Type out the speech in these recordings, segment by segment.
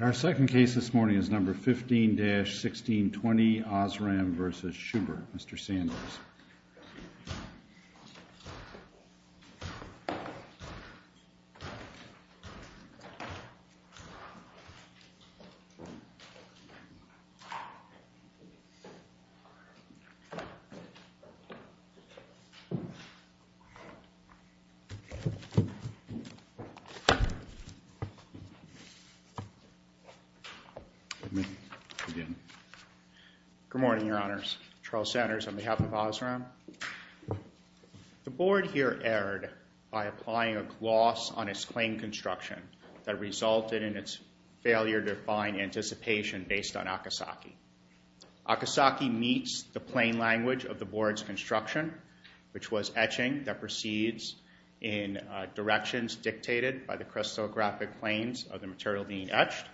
Our second case this morning is No. 15-1620 Osram v. Schubert. The board here erred by applying a gloss on its claim construction that resulted in its failure to find anticipation based on Akasaki. Akasaki meets the plain language of the board's construction, which was etching that proceeds in directions dictated by the crystallographic planes of the material being etched.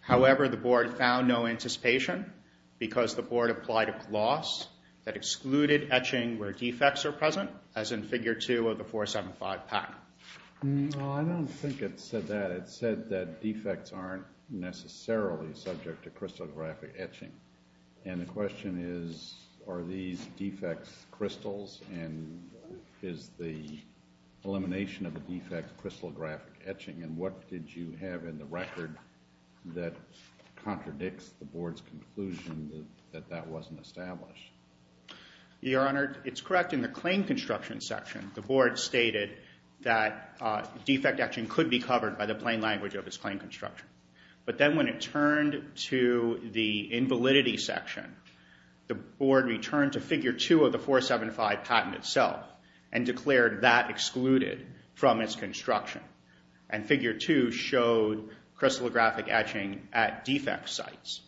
However, the board found no anticipation because the board applied a gloss that excluded etching where defects are present, as in Figure 2 of the 475 pact. I don't think it said that. It said that defects aren't necessarily subject to crystallographic etching. And the question is, are these defects crystals and is the elimination of the defect crystallographic etching, and what did you have in the record that contradicts the board's conclusion that that wasn't established? Your Honor, it's correct in the claim construction section. The board stated that defect etching could be covered by the plain language of its claim construction. But then when it turned to the invalidity section, the board returned to Figure 2 of the 475 patent itself and declared that excluded from its construction. And Figure 2 showed crystallographic etching at defect sites.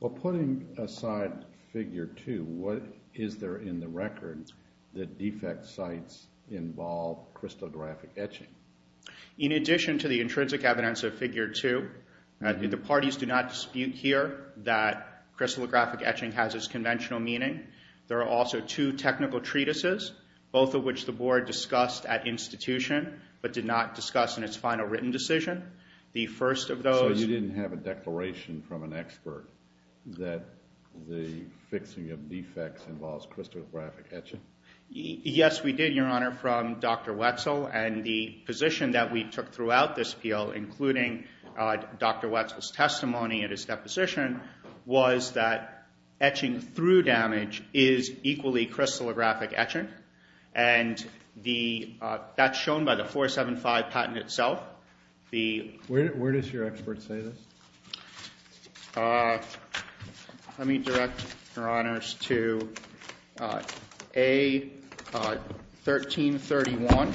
Well, putting aside Figure 2, what is there in the record that defect sites involve crystallographic etching? In addition to the intrinsic evidence of Figure 2, the parties do not dispute here that crystallographic etching has its conventional meaning. There are also two technical treatises, both of which the board discussed at institution but did not discuss in its final written decision. So you didn't have a declaration from an expert that the fixing of defects involves crystallographic etching? Yes, we did, Your Honor, from Dr. Wetzel. And the position that we took throughout this appeal, including Dr. Wetzel's testimony and his deposition, was that etching through damage is equally crystallographic etching. And that's shown by the 475 patent itself. Where does your expert say this? Let me direct, Your Honors, to A1331,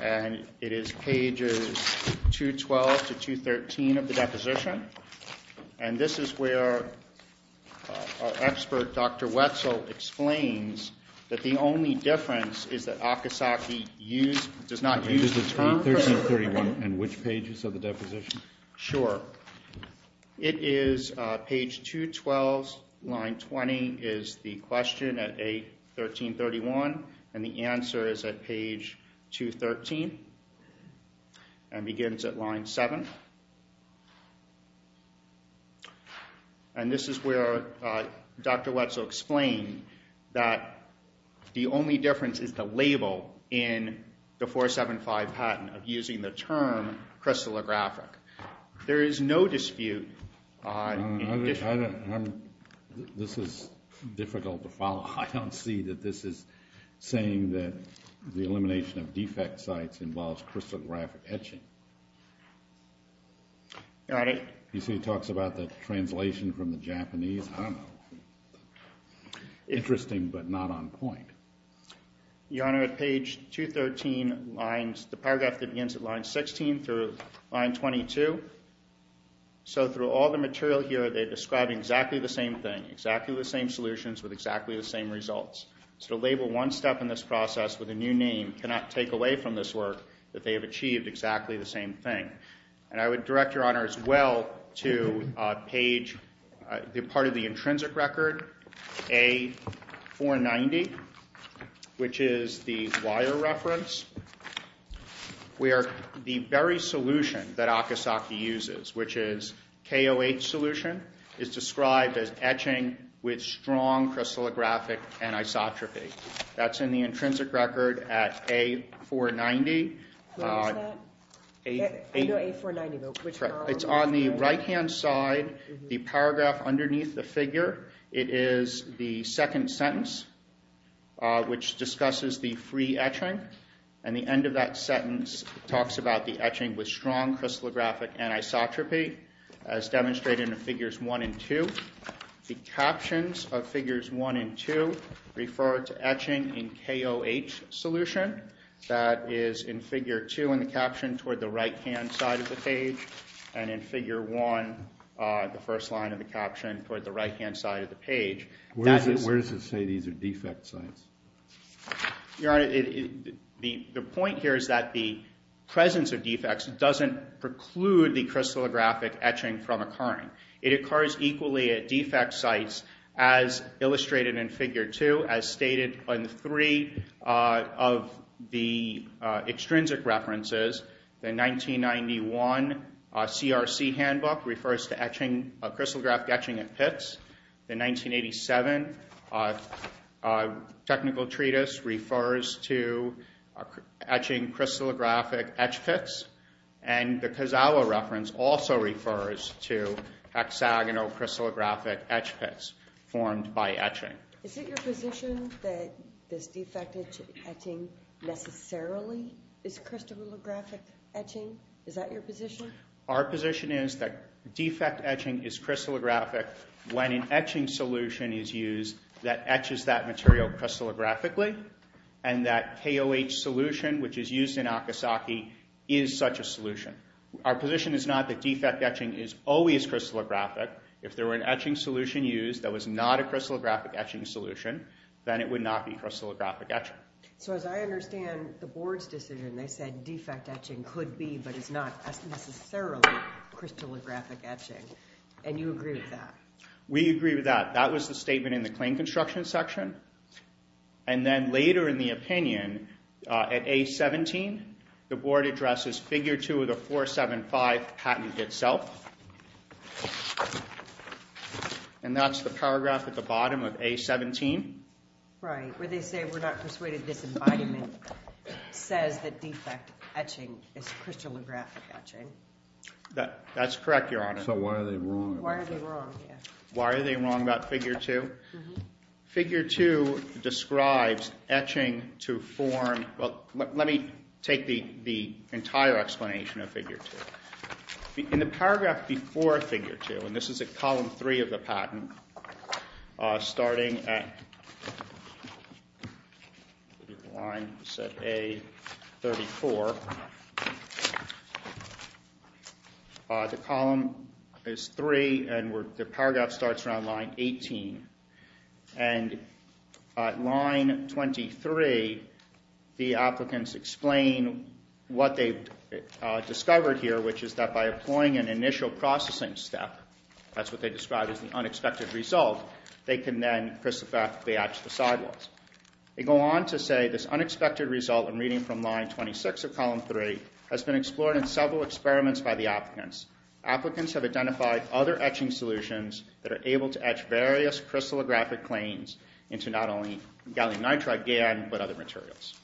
and it is pages 212 to 213 of the deposition. And this is where our expert, Dr. Wetzel, explains that the only difference is that Akasaki does not use the term crystallographic etching. Sure. It is page 212, line 20 is the question at A1331, and the answer is at page 213 and begins at line 7. And this is where Dr. Wetzel explained that the only difference is the label in the 475 patent of using the term crystallographic. There is no dispute. I don't see that this is saying that the elimination of defect sites involves crystallographic etching. Your Honor. You see he talks about the translation from the Japanese. I don't know. Interesting, but not on point. Your Honor, at page 213, the paragraph begins at line 16 through line 22. So through all the material here, they're describing exactly the same thing, exactly the same solutions with exactly the same results. So to label one step in this process with a new name cannot take away from this work that they have achieved exactly the same thing. And I would direct, Your Honor, as well to page, part of the intrinsic record, A490, which is the wire reference, where the very solution that Akasaki uses, which is KOH solution, is described as etching with strong crystallographic anisotropy. That's in the intrinsic record at A490. Where is that? I know A490, but which paragraph? It's on the right-hand side, the paragraph underneath the figure. It is the second sentence, which discusses the free etching. And the end of that sentence talks about the etching with strong crystallographic anisotropy, as demonstrated in figures 1 and 2. The captions of figures 1 and 2 refer to etching in KOH solution. That is in figure 2 in the caption toward the right-hand side of the page. And in figure 1, the first line of the caption toward the right-hand side of the page. Where does it say these are defect sites? Your Honor, the point here is that the presence of defects doesn't preclude the crystallographic etching from occurring. It occurs equally at defect sites as illustrated in figure 2, as stated in three of the extrinsic references. The 1991 CRC handbook refers to crystallographic etching at pits. The 1987 technical treatise refers to etching crystallographic etch pits. And the Kozawa reference also refers to hexagonal crystallographic etch pits formed by etching. Is it your position that this defect etching necessarily is crystallographic etching? Is that your position? Our position is that defect etching is crystallographic when an etching solution is used that etches that material crystallographically. And that KOH solution, which is used in Akasaki, is such a solution. Our position is not that defect etching is always crystallographic. If there were an etching solution used that was not a crystallographic etching solution, then it would not be crystallographic etching. So as I understand the board's decision, they said defect etching could be, but it's not necessarily crystallographic etching. And you agree with that? We agree with that. That was the statement in the claim construction section. And then later in the opinion, at A17, the board addresses figure 2 of the 475 patent itself. And that's the paragraph at the bottom of A17. Right, where they say we're not persuaded this embodiment says that defect etching is crystallographic etching. That's correct, Your Honor. So why are they wrong? Why are they wrong, yeah. Why are they wrong about figure 2? Figure 2 describes etching to form. Well, let me take the entire explanation of figure 2. In the paragraph before figure 2, and this is at column 3 of the patent, starting at line set A34. The column is 3, and the paragraph starts around line 18. And line 23, the applicants explain what they've discovered here, which is that by employing an initial processing step, that's what they described as the unexpected result, they can then crystallograph the etched sidewalls. They go on to say this unexpected result in reading from line 26 of column 3 has been explored in several experiments by the applicants. Applicants have identified other etching solutions that are able to etch various crystallographic claims into not only gallium nitride GAN, but other materials.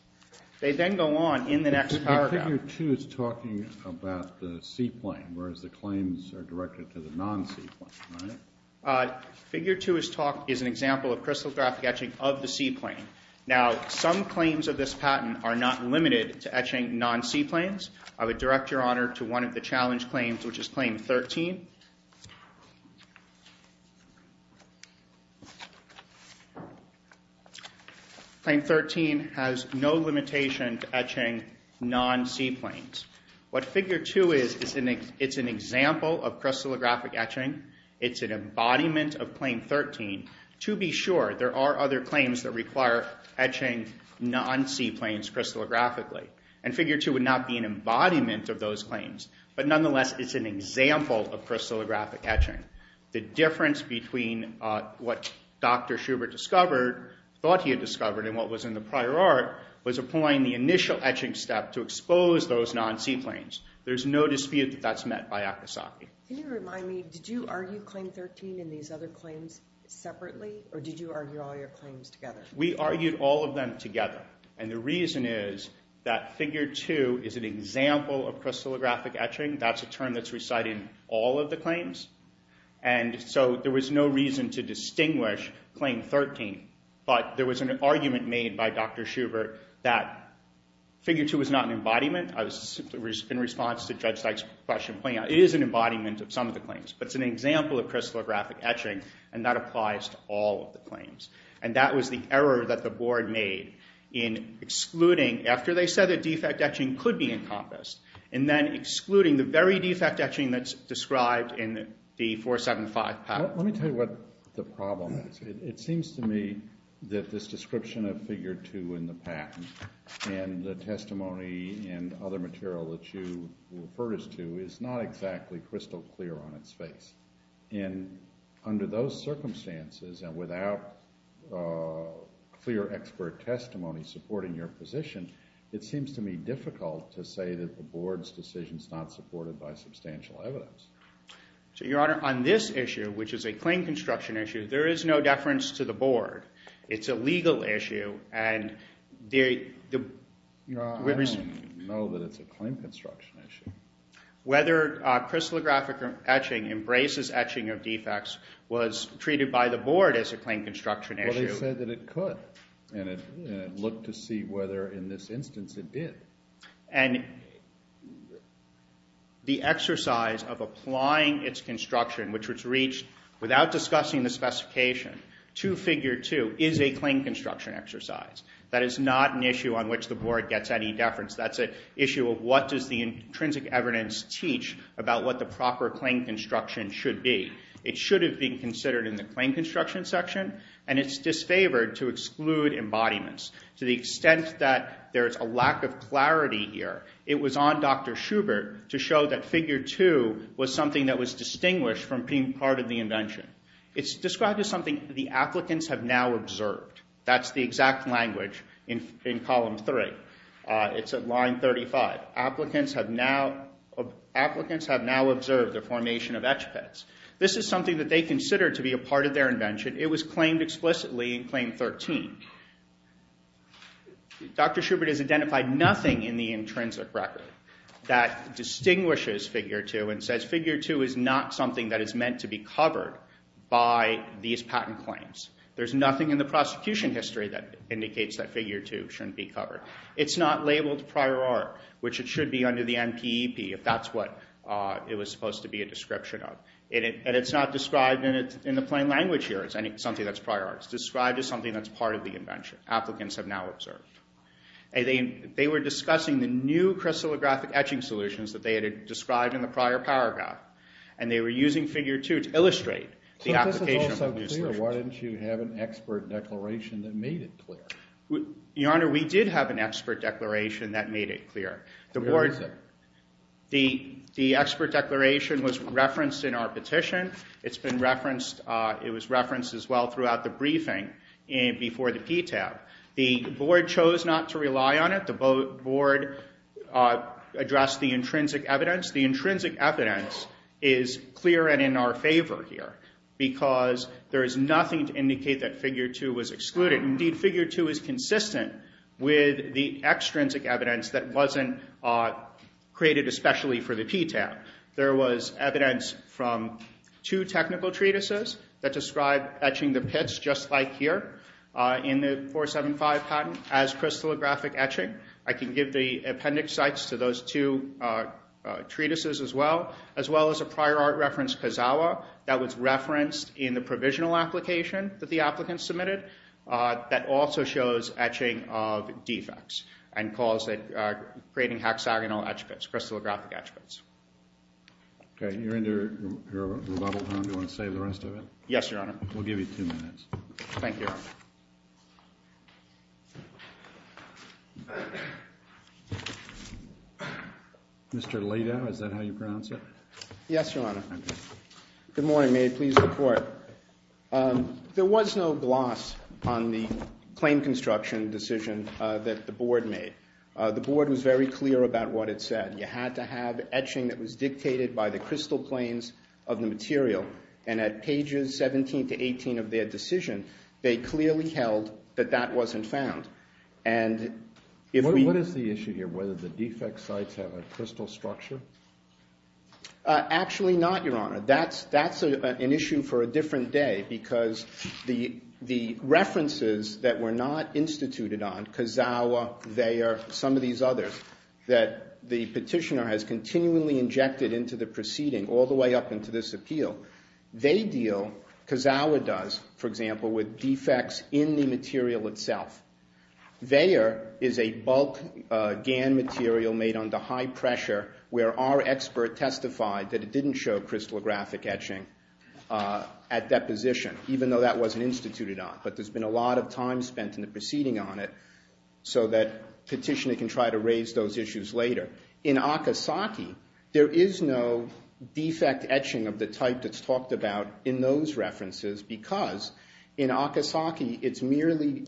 They then go on in the next paragraph. Figure 2 is talking about the C-plane, whereas the claims are directed to the non-C-plane, right? Figure 2 is an example of crystallographic etching of the C-plane. Now, some claims of this patent are not limited to etching non-C-planes. I would direct your honor to one of the challenge claims, which is claim 13. Claim 13 has no limitation to etching non-C-planes. What figure 2 is, it's an example of crystallographic etching. It's an embodiment of claim 13. To be sure, there are other claims that require etching non-C-planes crystallographically, and figure 2 would not be an embodiment of those claims. But nonetheless, it's an example of crystallographic etching. The difference between what Dr. Schubert discovered, thought he had discovered, and what was in the prior art, was applying the initial etching step to expose those non-C-planes. There's no dispute that that's met by Akasaki. Can you remind me, did you argue claim 13 and these other claims separately? Or did you argue all your claims together? We argued all of them together. And the reason is that figure 2 is an example of crystallographic etching. That's a term that's recited in all of the claims. And so there was no reason to distinguish claim 13. But there was an argument made by Dr. Schubert that figure 2 was not an embodiment. In response to Judge Dyke's question, it is an embodiment of some of the claims. But it's an example of crystallographic etching, and that applies to all of the claims. And that was the error that the board made in excluding, after they said that defect etching could be encompassed, and then excluding the very defect etching that's described in the 475 patent. Let me tell you what the problem is. It seems to me that this description of figure 2 in the patent and the testimony and other material that you referred us to is not exactly crystal clear on its face. And under those circumstances and without clear expert testimony supporting your position, it seems to me difficult to say that the board's decision is not supported by substantial evidence. So, Your Honor, on this issue, which is a claim construction issue, there is no deference to the board. It's a legal issue. I don't know that it's a claim construction issue. Whether crystallographic etching embraces etching of defects was treated by the board as a claim construction issue. Well, they said that it could. And it looked to see whether in this instance it did. And the exercise of applying its construction, which was reached without discussing the specification, to figure 2 is a claim construction exercise. That is not an issue on which the board gets any deference. That's an issue of what does the intrinsic evidence teach about what the proper claim construction should be. It should have been considered in the claim construction section, and it's disfavored to exclude embodiments to the extent that there is a lack of clarity here. It was on Dr. Schubert to show that figure 2 was something that was distinguished from being part of the invention. It's described as something the applicants have now observed. That's the exact language in column 3. It's at line 35. Applicants have now observed the formation of etch pits. This is something that they considered to be a part of their invention. It was claimed explicitly in claim 13. Dr. Schubert has identified nothing in the intrinsic record that distinguishes figure 2 and says figure 2 is not something that is meant to be covered by these patent claims. There's nothing in the prosecution history that indicates that figure 2 shouldn't be covered. It's not labeled prior art, which it should be under the NPEP if that's what it was supposed to be a description of. And it's not described in the plain language here as something that's prior art. It's described as something that's part of the invention, applicants have now observed. They were discussing the new crystallographic etching solutions that they had described in the prior paragraph, and they were using figure 2 to illustrate the application of those solutions. Why didn't you have an expert declaration that made it clear? Your Honor, we did have an expert declaration that made it clear. Where is it? The expert declaration was referenced in our petition. It was referenced as well throughout the briefing before the PTAB. The board chose not to rely on it. The board addressed the intrinsic evidence. The intrinsic evidence is clear and in our favor here because there is nothing to indicate that figure 2 was excluded. Indeed, figure 2 is consistent with the extrinsic evidence that wasn't created especially for the PTAB. There was evidence from two technical treatises that described etching the pits just like here in the 475 patent as crystallographic etching. I can give the appendix sites to those two treatises as well, as well as a prior art reference, Kazawa, that was referenced in the provisional application that the applicant submitted that also shows etching of defects and calls it creating hexagonal etch pits, crystallographic etch pits. Okay. You're in your rebuttal time. Do you want to save the rest of it? Yes, Your Honor. We'll give you two minutes. Thank you, Your Honor. Mr. Laidow, is that how you pronounce it? Yes, Your Honor. Good morning. May it please the Court. There was no gloss on the claim construction decision that the board made. The board was very clear about what it said. You had to have etching that was dictated by the crystal planes of the material, and at pages 17 to 18 of their decision, they clearly held that that wasn't found. What is the issue here? Whether the defect sites have a crystal structure? Actually not, Your Honor. That's an issue for a different day because the references that were not instituted on, Kazawa, Thayer, some of these others, that the petitioner has continually injected into the proceeding, all the way up into this appeal, they deal, Kazawa does, for example, with defects in the material itself. Thayer is a bulk GAN material made under high pressure where our expert testified that it didn't show crystallographic etching at deposition, even though that wasn't instituted on. But there's been a lot of time spent in the proceeding on it so that petitioner can try to raise those issues later. In Akasaki, there is no defect etching of the type that's talked about in those references because in Akasaki, it's merely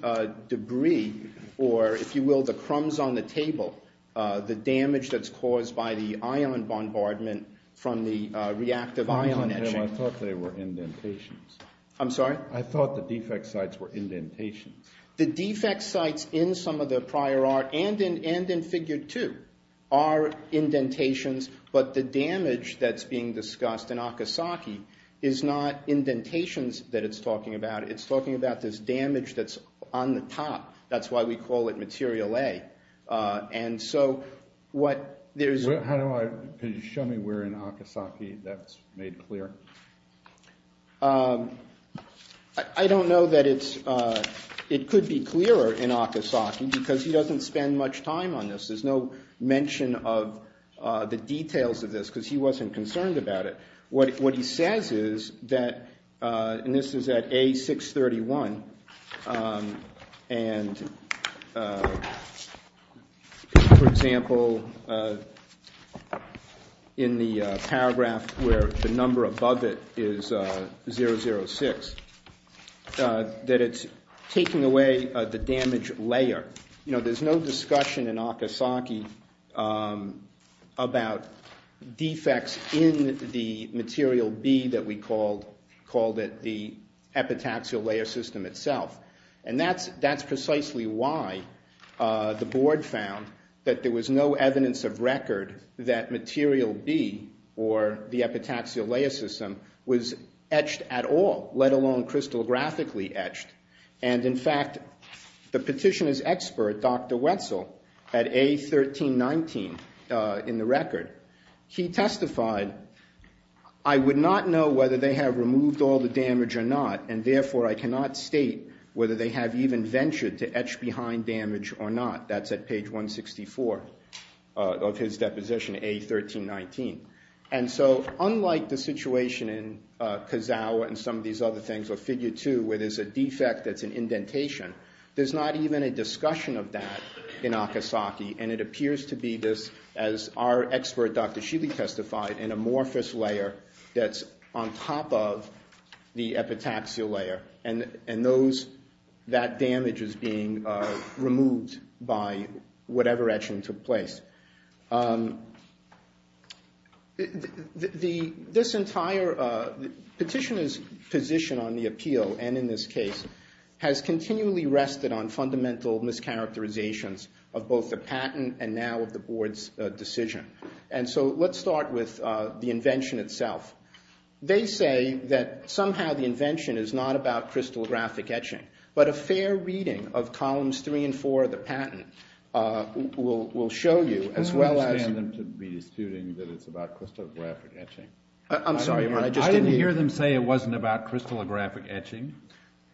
debris or, if you will, the crumbs on the table, the damage that's caused by the ion bombardment from the reactive ion etching. I thought they were indentations. I'm sorry? I thought the defect sites were indentations. The defect sites in some of the prior art and in figure two are indentations, but the damage that's being discussed in Akasaki is not indentations that it's talking about. It's talking about this damage that's on the top. That's why we call it material A. And so what there's – How do I – can you show me where in Akasaki that's made clear? I don't know that it's – it could be clearer in Akasaki because he doesn't spend much time on this. There's no mention of the details of this because he wasn't concerned about it. What he says is that – and this is at A631. And, for example, in the paragraph where the number above it is 006, that it's taking away the damage layer. You know, there's no discussion in Akasaki about defects in the material B that we called – And that's precisely why the board found that there was no evidence of record that material B, or the epitaxial layer system, was etched at all, let alone crystallographically etched. And, in fact, the petitioner's expert, Dr. Wetzel, at A1319 in the record, he testified, I would not know whether they have removed all the damage or not, and, therefore, I cannot state whether they have even ventured to etch behind damage or not. That's at page 164 of his deposition, A1319. And so, unlike the situation in Kazawa and some of these other things, or figure two, where there's a defect that's an indentation, there's not even a discussion of that in Akasaki. And it appears to be this, as our expert, Dr. Sheely, testified, an amorphous layer that's on top of the epitaxial layer. And that damage is being removed by whatever etching took place. This entire petitioner's position on the appeal, and in this case, has continually rested on fundamental mischaracterizations of both the patent and now of the board's decision. And so let's start with the invention itself. They say that somehow the invention is not about crystallographic etching, but a fair reading of columns three and four of the patent will show you, as well as... I don't understand them to be assuming that it's about crystallographic etching. I'm sorry. I didn't hear them say it wasn't about crystallographic etching.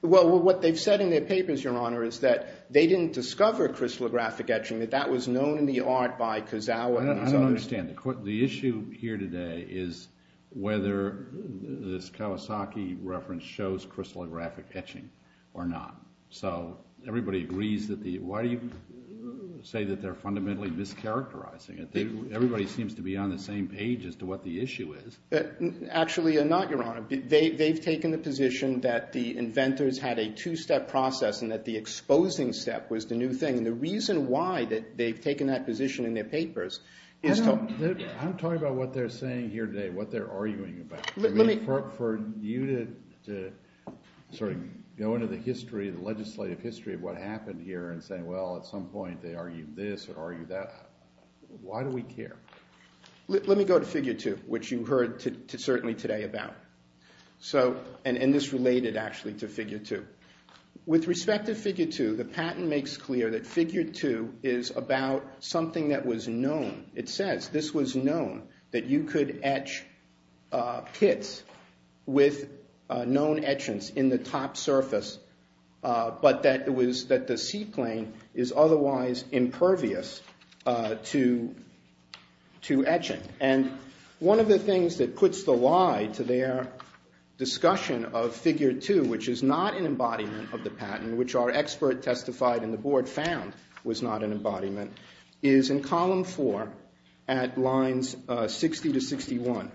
Well, what they've said in their papers, Your Honor, is that they didn't discover crystallographic etching, that that was known in the art by Kozawa and his others. I don't understand. The issue here today is whether this Kawasaki reference shows crystallographic etching or not. So everybody agrees that the... Why do you say that they're fundamentally mischaracterizing it? Everybody seems to be on the same page as to what the issue is. Actually, they're not, Your Honor. They've taken the position that the inventors had a two-step process and that the exposing step was the new thing. And the reason why they've taken that position in their papers is to... I'm talking about what they're saying here today, what they're arguing about. For you to sort of go into the history, the legislative history of what happened here and say, well, at some point they argued this or argued that, why do we care? Let me go to Figure 2, which you heard certainly today about. And this related actually to Figure 2. With respect to Figure 2, the patent makes clear that Figure 2 is about something that was known. It says this was known, that you could etch kits with known etchants in the top surface, but that the seaplane is otherwise impervious to etching. And one of the things that puts the lie to their discussion of Figure 2, which is not an embodiment of the patent, which our expert testified and the board found was not an embodiment, is in Column 4 at Lines 60 to 61.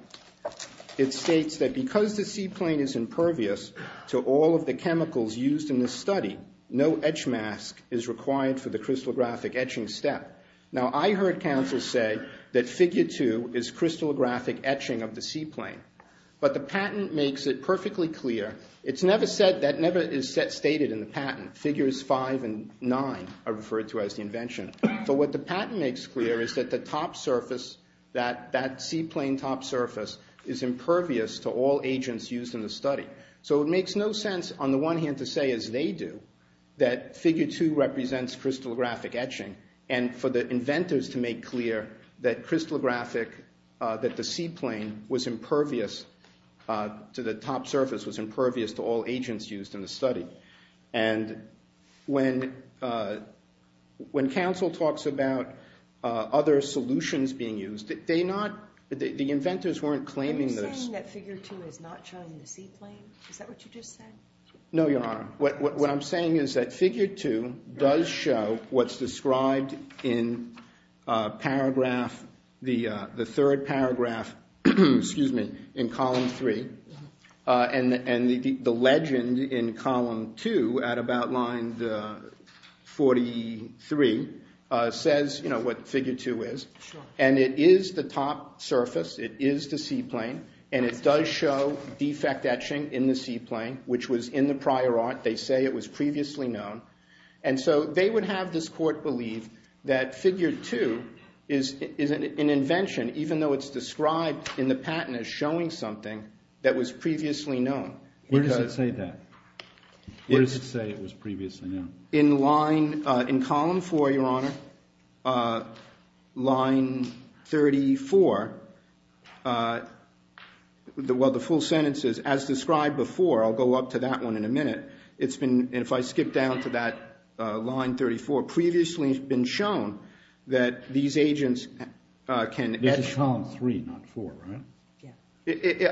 It states that because the seaplane is impervious to all of the chemicals used in this study, no etch mask is required for the crystallographic etching step. Now, I heard counsel say that Figure 2 is crystallographic etching of the seaplane. But the patent makes it perfectly clear. That never is stated in the patent. Figures 5 and 9 are referred to as the invention. But what the patent makes clear is that the top surface, that seaplane top surface, is impervious to all agents used in the study. So it makes no sense, on the one hand, to say, as they do, that Figure 2 represents crystallographic etching, and for the inventors to make clear that crystallographic, that the seaplane was impervious to the top surface, was impervious to all agents used in the study. And when counsel talks about other solutions being used, the inventors weren't claiming this. Are you saying that Figure 2 is not showing the seaplane? Is that what you just said? No, Your Honor. What I'm saying is that Figure 2 does show what's described in paragraph, the third paragraph, excuse me, in Column 3, and the legend in Column 2 at about line 43 says what Figure 2 is. And it is the top surface. It is the seaplane. And it does show defect etching in the seaplane, which was in the prior art. They say it was previously known. And so they would have this court believe that Figure 2 is an invention, even though it's described in the patent as showing something that was previously known. Where does it say that? Where does it say it was previously known? In line, in Column 4, Your Honor, line 34, well, the full sentence is as described before. I'll go up to that one in a minute. It's been, if I skip down to that line 34, previously has been shown that these agents can etch. This is Column 3, not 4, right?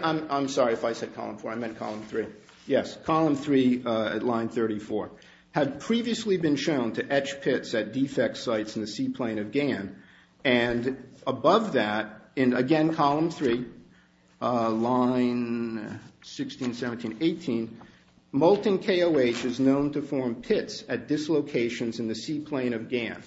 I'm sorry if I said Column 4. I meant Column 3. Yes, Column 3 at line 34 had previously been shown to etch pits at defect sites in the seaplane of Ghan. And above that, and again, Column 3, line 16, 17, 18, molten KOH is known to form pits at dislocations in the seaplane of Ghan.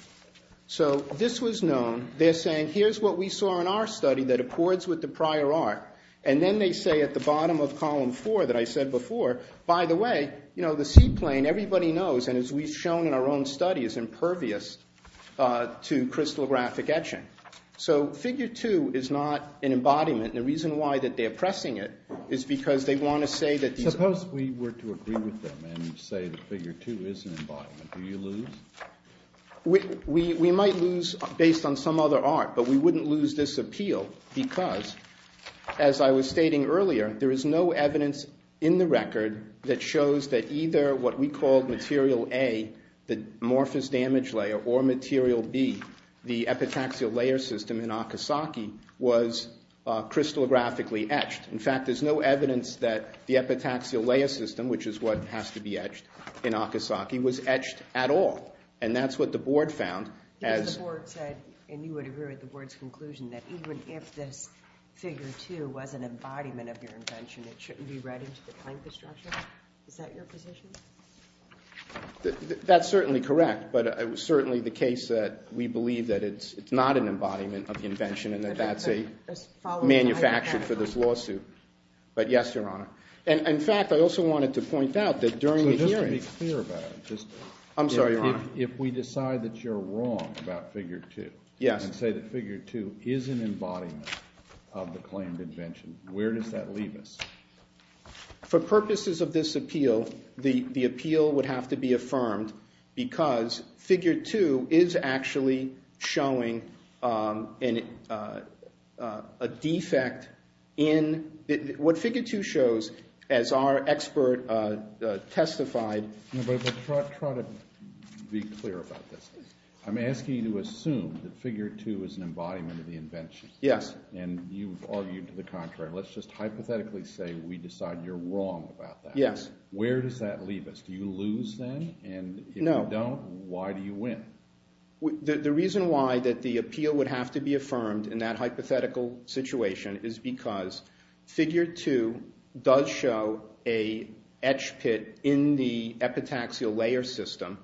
So this was known. They're saying here's what we saw in our study that accords with the prior art, and then they say at the bottom of Column 4 that I said before, by the way, you know, the seaplane, everybody knows, and as we've shown in our own study, is impervious to crystallographic etching. So Figure 2 is not an embodiment, and the reason why that they're pressing it is because they want to say that these are. Suppose we were to agree with them and say that Figure 2 is an embodiment. Do you lose? We might lose based on some other art, but we wouldn't lose this appeal because, as I was stating earlier, there is no evidence in the record that shows that either what we called Material A, the amorphous damage layer, or Material B, the epitaxial layer system in Akasaki, was crystallographically etched. In fact, there's no evidence that the epitaxial layer system, which is what has to be etched in Akasaki, was etched at all. And that's what the board found. The board said, and you would agree with the board's conclusion, that even if this Figure 2 was an embodiment of your invention, it shouldn't be read into the plaintiff's structure. Is that your position? That's certainly correct, but it was certainly the case that we believe that it's not an embodiment of the invention and that that's a manufacture for this lawsuit. But yes, Your Honor. In fact, I also wanted to point out that during the hearings... Just be clear about it. I'm sorry, Your Honor. If we decide that you're wrong about Figure 2 and say that Figure 2 is an embodiment of the claimed invention, where does that leave us? For purposes of this appeal, the appeal would have to be affirmed because Figure 2 is actually showing a defect in... What Figure 2 shows, as our expert testified... No, but try to be clear about this. I'm asking you to assume that Figure 2 is an embodiment of the invention. Yes. And you've argued to the contrary. Let's just hypothetically say we decide you're wrong about that. Yes. Where does that leave us? Do you lose then? No. And if you don't, why do you win? The reason why that the appeal would have to be affirmed in that hypothetical situation is because Figure 2 does show an etch pit in the epitaxial layer system,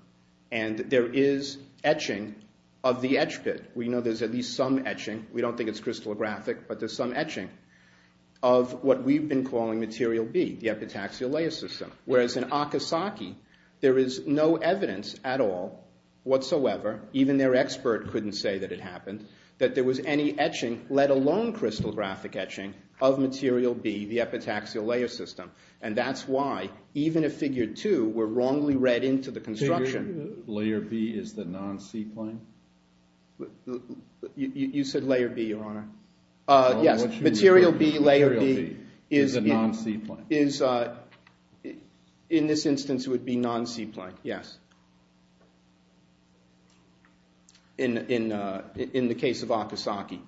and there is etching of the etch pit. We know there's at least some etching. We don't think it's crystallographic, but there's some etching of what we've been calling Material B, the epitaxial layer system. Whereas in Akasaki, there is no evidence at all, whatsoever, even their expert couldn't say that it happened, that there was any etching, let alone crystallographic etching, of Material B, the epitaxial layer system. And that's why, even if Figure 2 were wrongly read into the construction... Figure 2, Layer B is the non-C plane? You said Layer B, Your Honor. Yes. Material B, Layer B is a non-C plane. In this instance, it would be non-C plane, yes. In the case of Akasaki.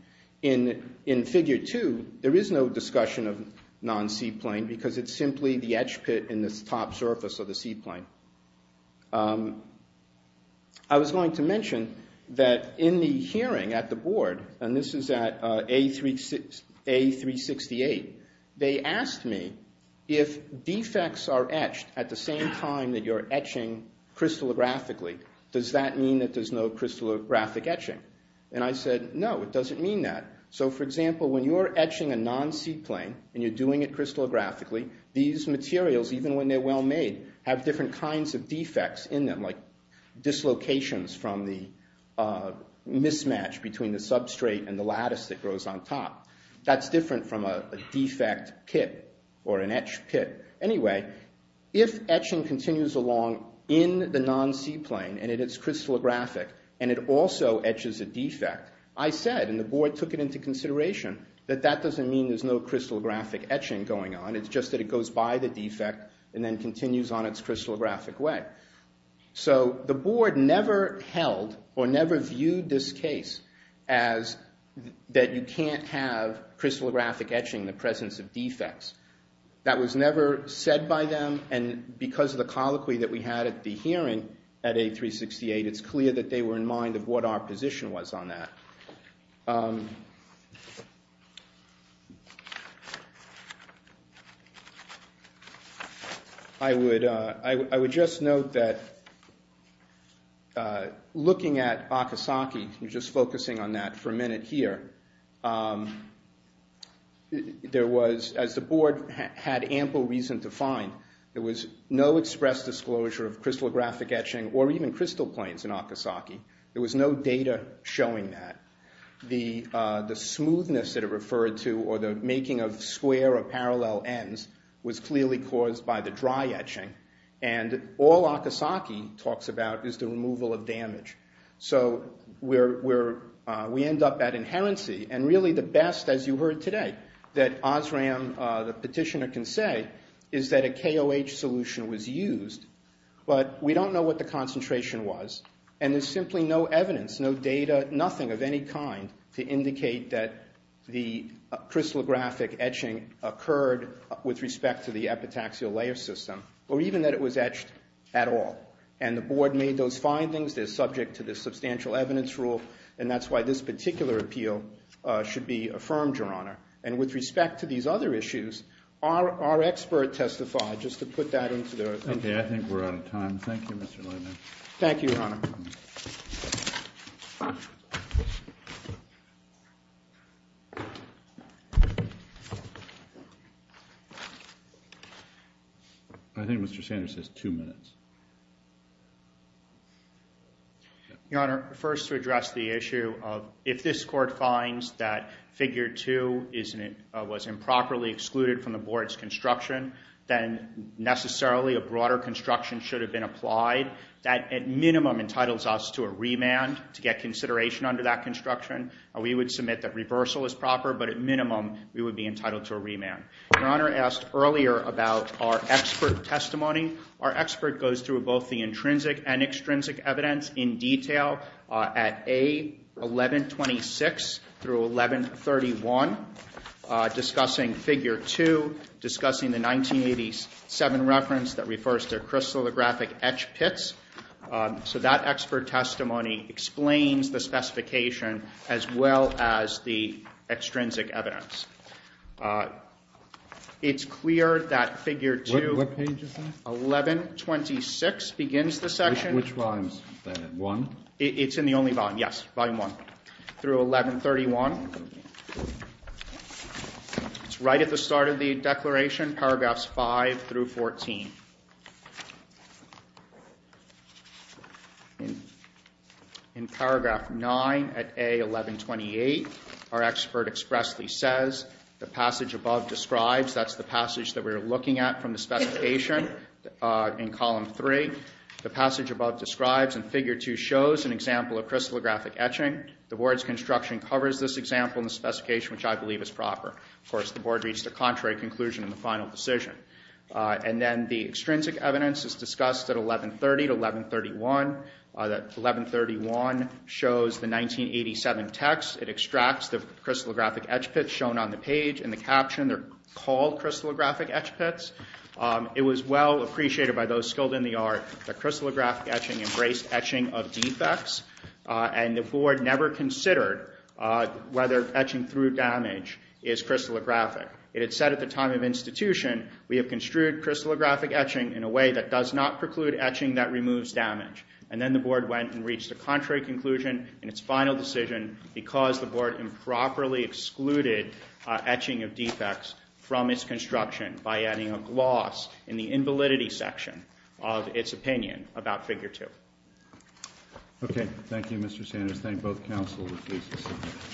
In Figure 2, there is no discussion of non-C plane, because it's simply the etch pit in the top surface of the C plane. I was going to mention that in the hearing at the board, and this is at A368, they asked me if defects are etched at the same time that you're etching crystallographically. Does that mean that there's no crystallographic etching? And I said, no, it doesn't mean that. So, for example, when you're etching a non-C plane, and you're doing it crystallographically, these materials, even when they're well-made, have different kinds of defects in them, like dislocations from the mismatch between the substrate and the lattice that grows on top. That's different from a defect pit, or an etch pit. Anyway, if etching continues along in the non-C plane, and it's crystallographic, and it also etches a defect, I said, and the board took it into consideration, that that doesn't mean there's no crystallographic etching going on, it's just that it goes by the defect, and then continues on its crystallographic way. So, the board never held, or never viewed this case, as that you can't have crystallographic etching in the presence of defects. That was never said by them, and because of the colloquy that we had at the hearing, at A368, it's clear that they were in mind of what our position was on that. I would just note that, looking at Akasaki, and just focusing on that for a minute here, there was, as the board had ample reason to find, there was no express disclosure of crystallographic etching, or even crystal planes in Akasaki. There was no data showing that. The smoothness that it referred to, or the making of square or parallel ends, was clearly caused by the dry etching, and all Akasaki talks about is the removal of damage. So, we end up at inherency, and really the best, as you heard today, that Osram, the petitioner, can say, is that a KOH solution was used, but we don't know what the concentration was, and there's simply no evidence, no data, nothing of any kind, to indicate that the crystallographic etching occurred with respect to the epitaxial layer system, or even that it was etched at all. And the board made those findings, they're subject to the substantial evidence rule, and that's why this particular appeal should be affirmed, Your Honor. And with respect to these other issues, our expert testified, just to put that into the... Okay, I think we're out of time. Thank you, Mr. Levin. Thank you, Your Honor. Thank you. I think Mr. Sanders has two minutes. Your Honor, first to address the issue of if this court finds that Figure 2 was improperly excluded from the board's construction, then necessarily a broader construction should have been applied that at minimum entitles us to a remand to get consideration under that construction. We would submit that reversal is proper, but at minimum, we would be entitled to a remand. Your Honor asked earlier about our expert testimony. Our expert goes through both the intrinsic and extrinsic evidence in detail at A. 1126 through 1131, discussing Figure 2, discussing the 1987 reference that refers to crystallographic etch pits. So that expert testimony explains the specification as well as the extrinsic evidence. It's clear that Figure 2... What page is that? 1126 begins the section. Which volume is that? Volume 1? It's in the only volume, yes. Volume 1 through 1131. It's right at the start of the declaration, paragraphs 5 through 14. In paragraph 9 at A. 1128, our expert expressly says, the passage above describes... That's the passage that we're looking at from the specification in column 3. The passage above describes and Figure 2 shows an example of crystallographic etching. The Board's construction covers this example in the specification, which I believe is proper. Of course, the Board reached a contrary conclusion in the final decision. And then the extrinsic evidence is discussed at A. 1130 to A. 1131. A. 1131 shows the 1987 text. It extracts the crystallographic etch pits shown on the page in the caption. They're called crystallographic etch pits. It was well appreciated by those skilled in the art that crystallographic etching embraced etching of defects, and the Board never considered whether etching through damage is crystallographic. It had said at the time of institution, we have construed crystallographic etching in a way that does not preclude etching that removes damage. And then the Board went and reached a contrary conclusion in its final decision because the Board improperly excluded etching of defects from its construction by adding a gloss in the invalidity section of its opinion about Figure 2. Okay. Thank you, Mr. Sanders. Thank both Councils.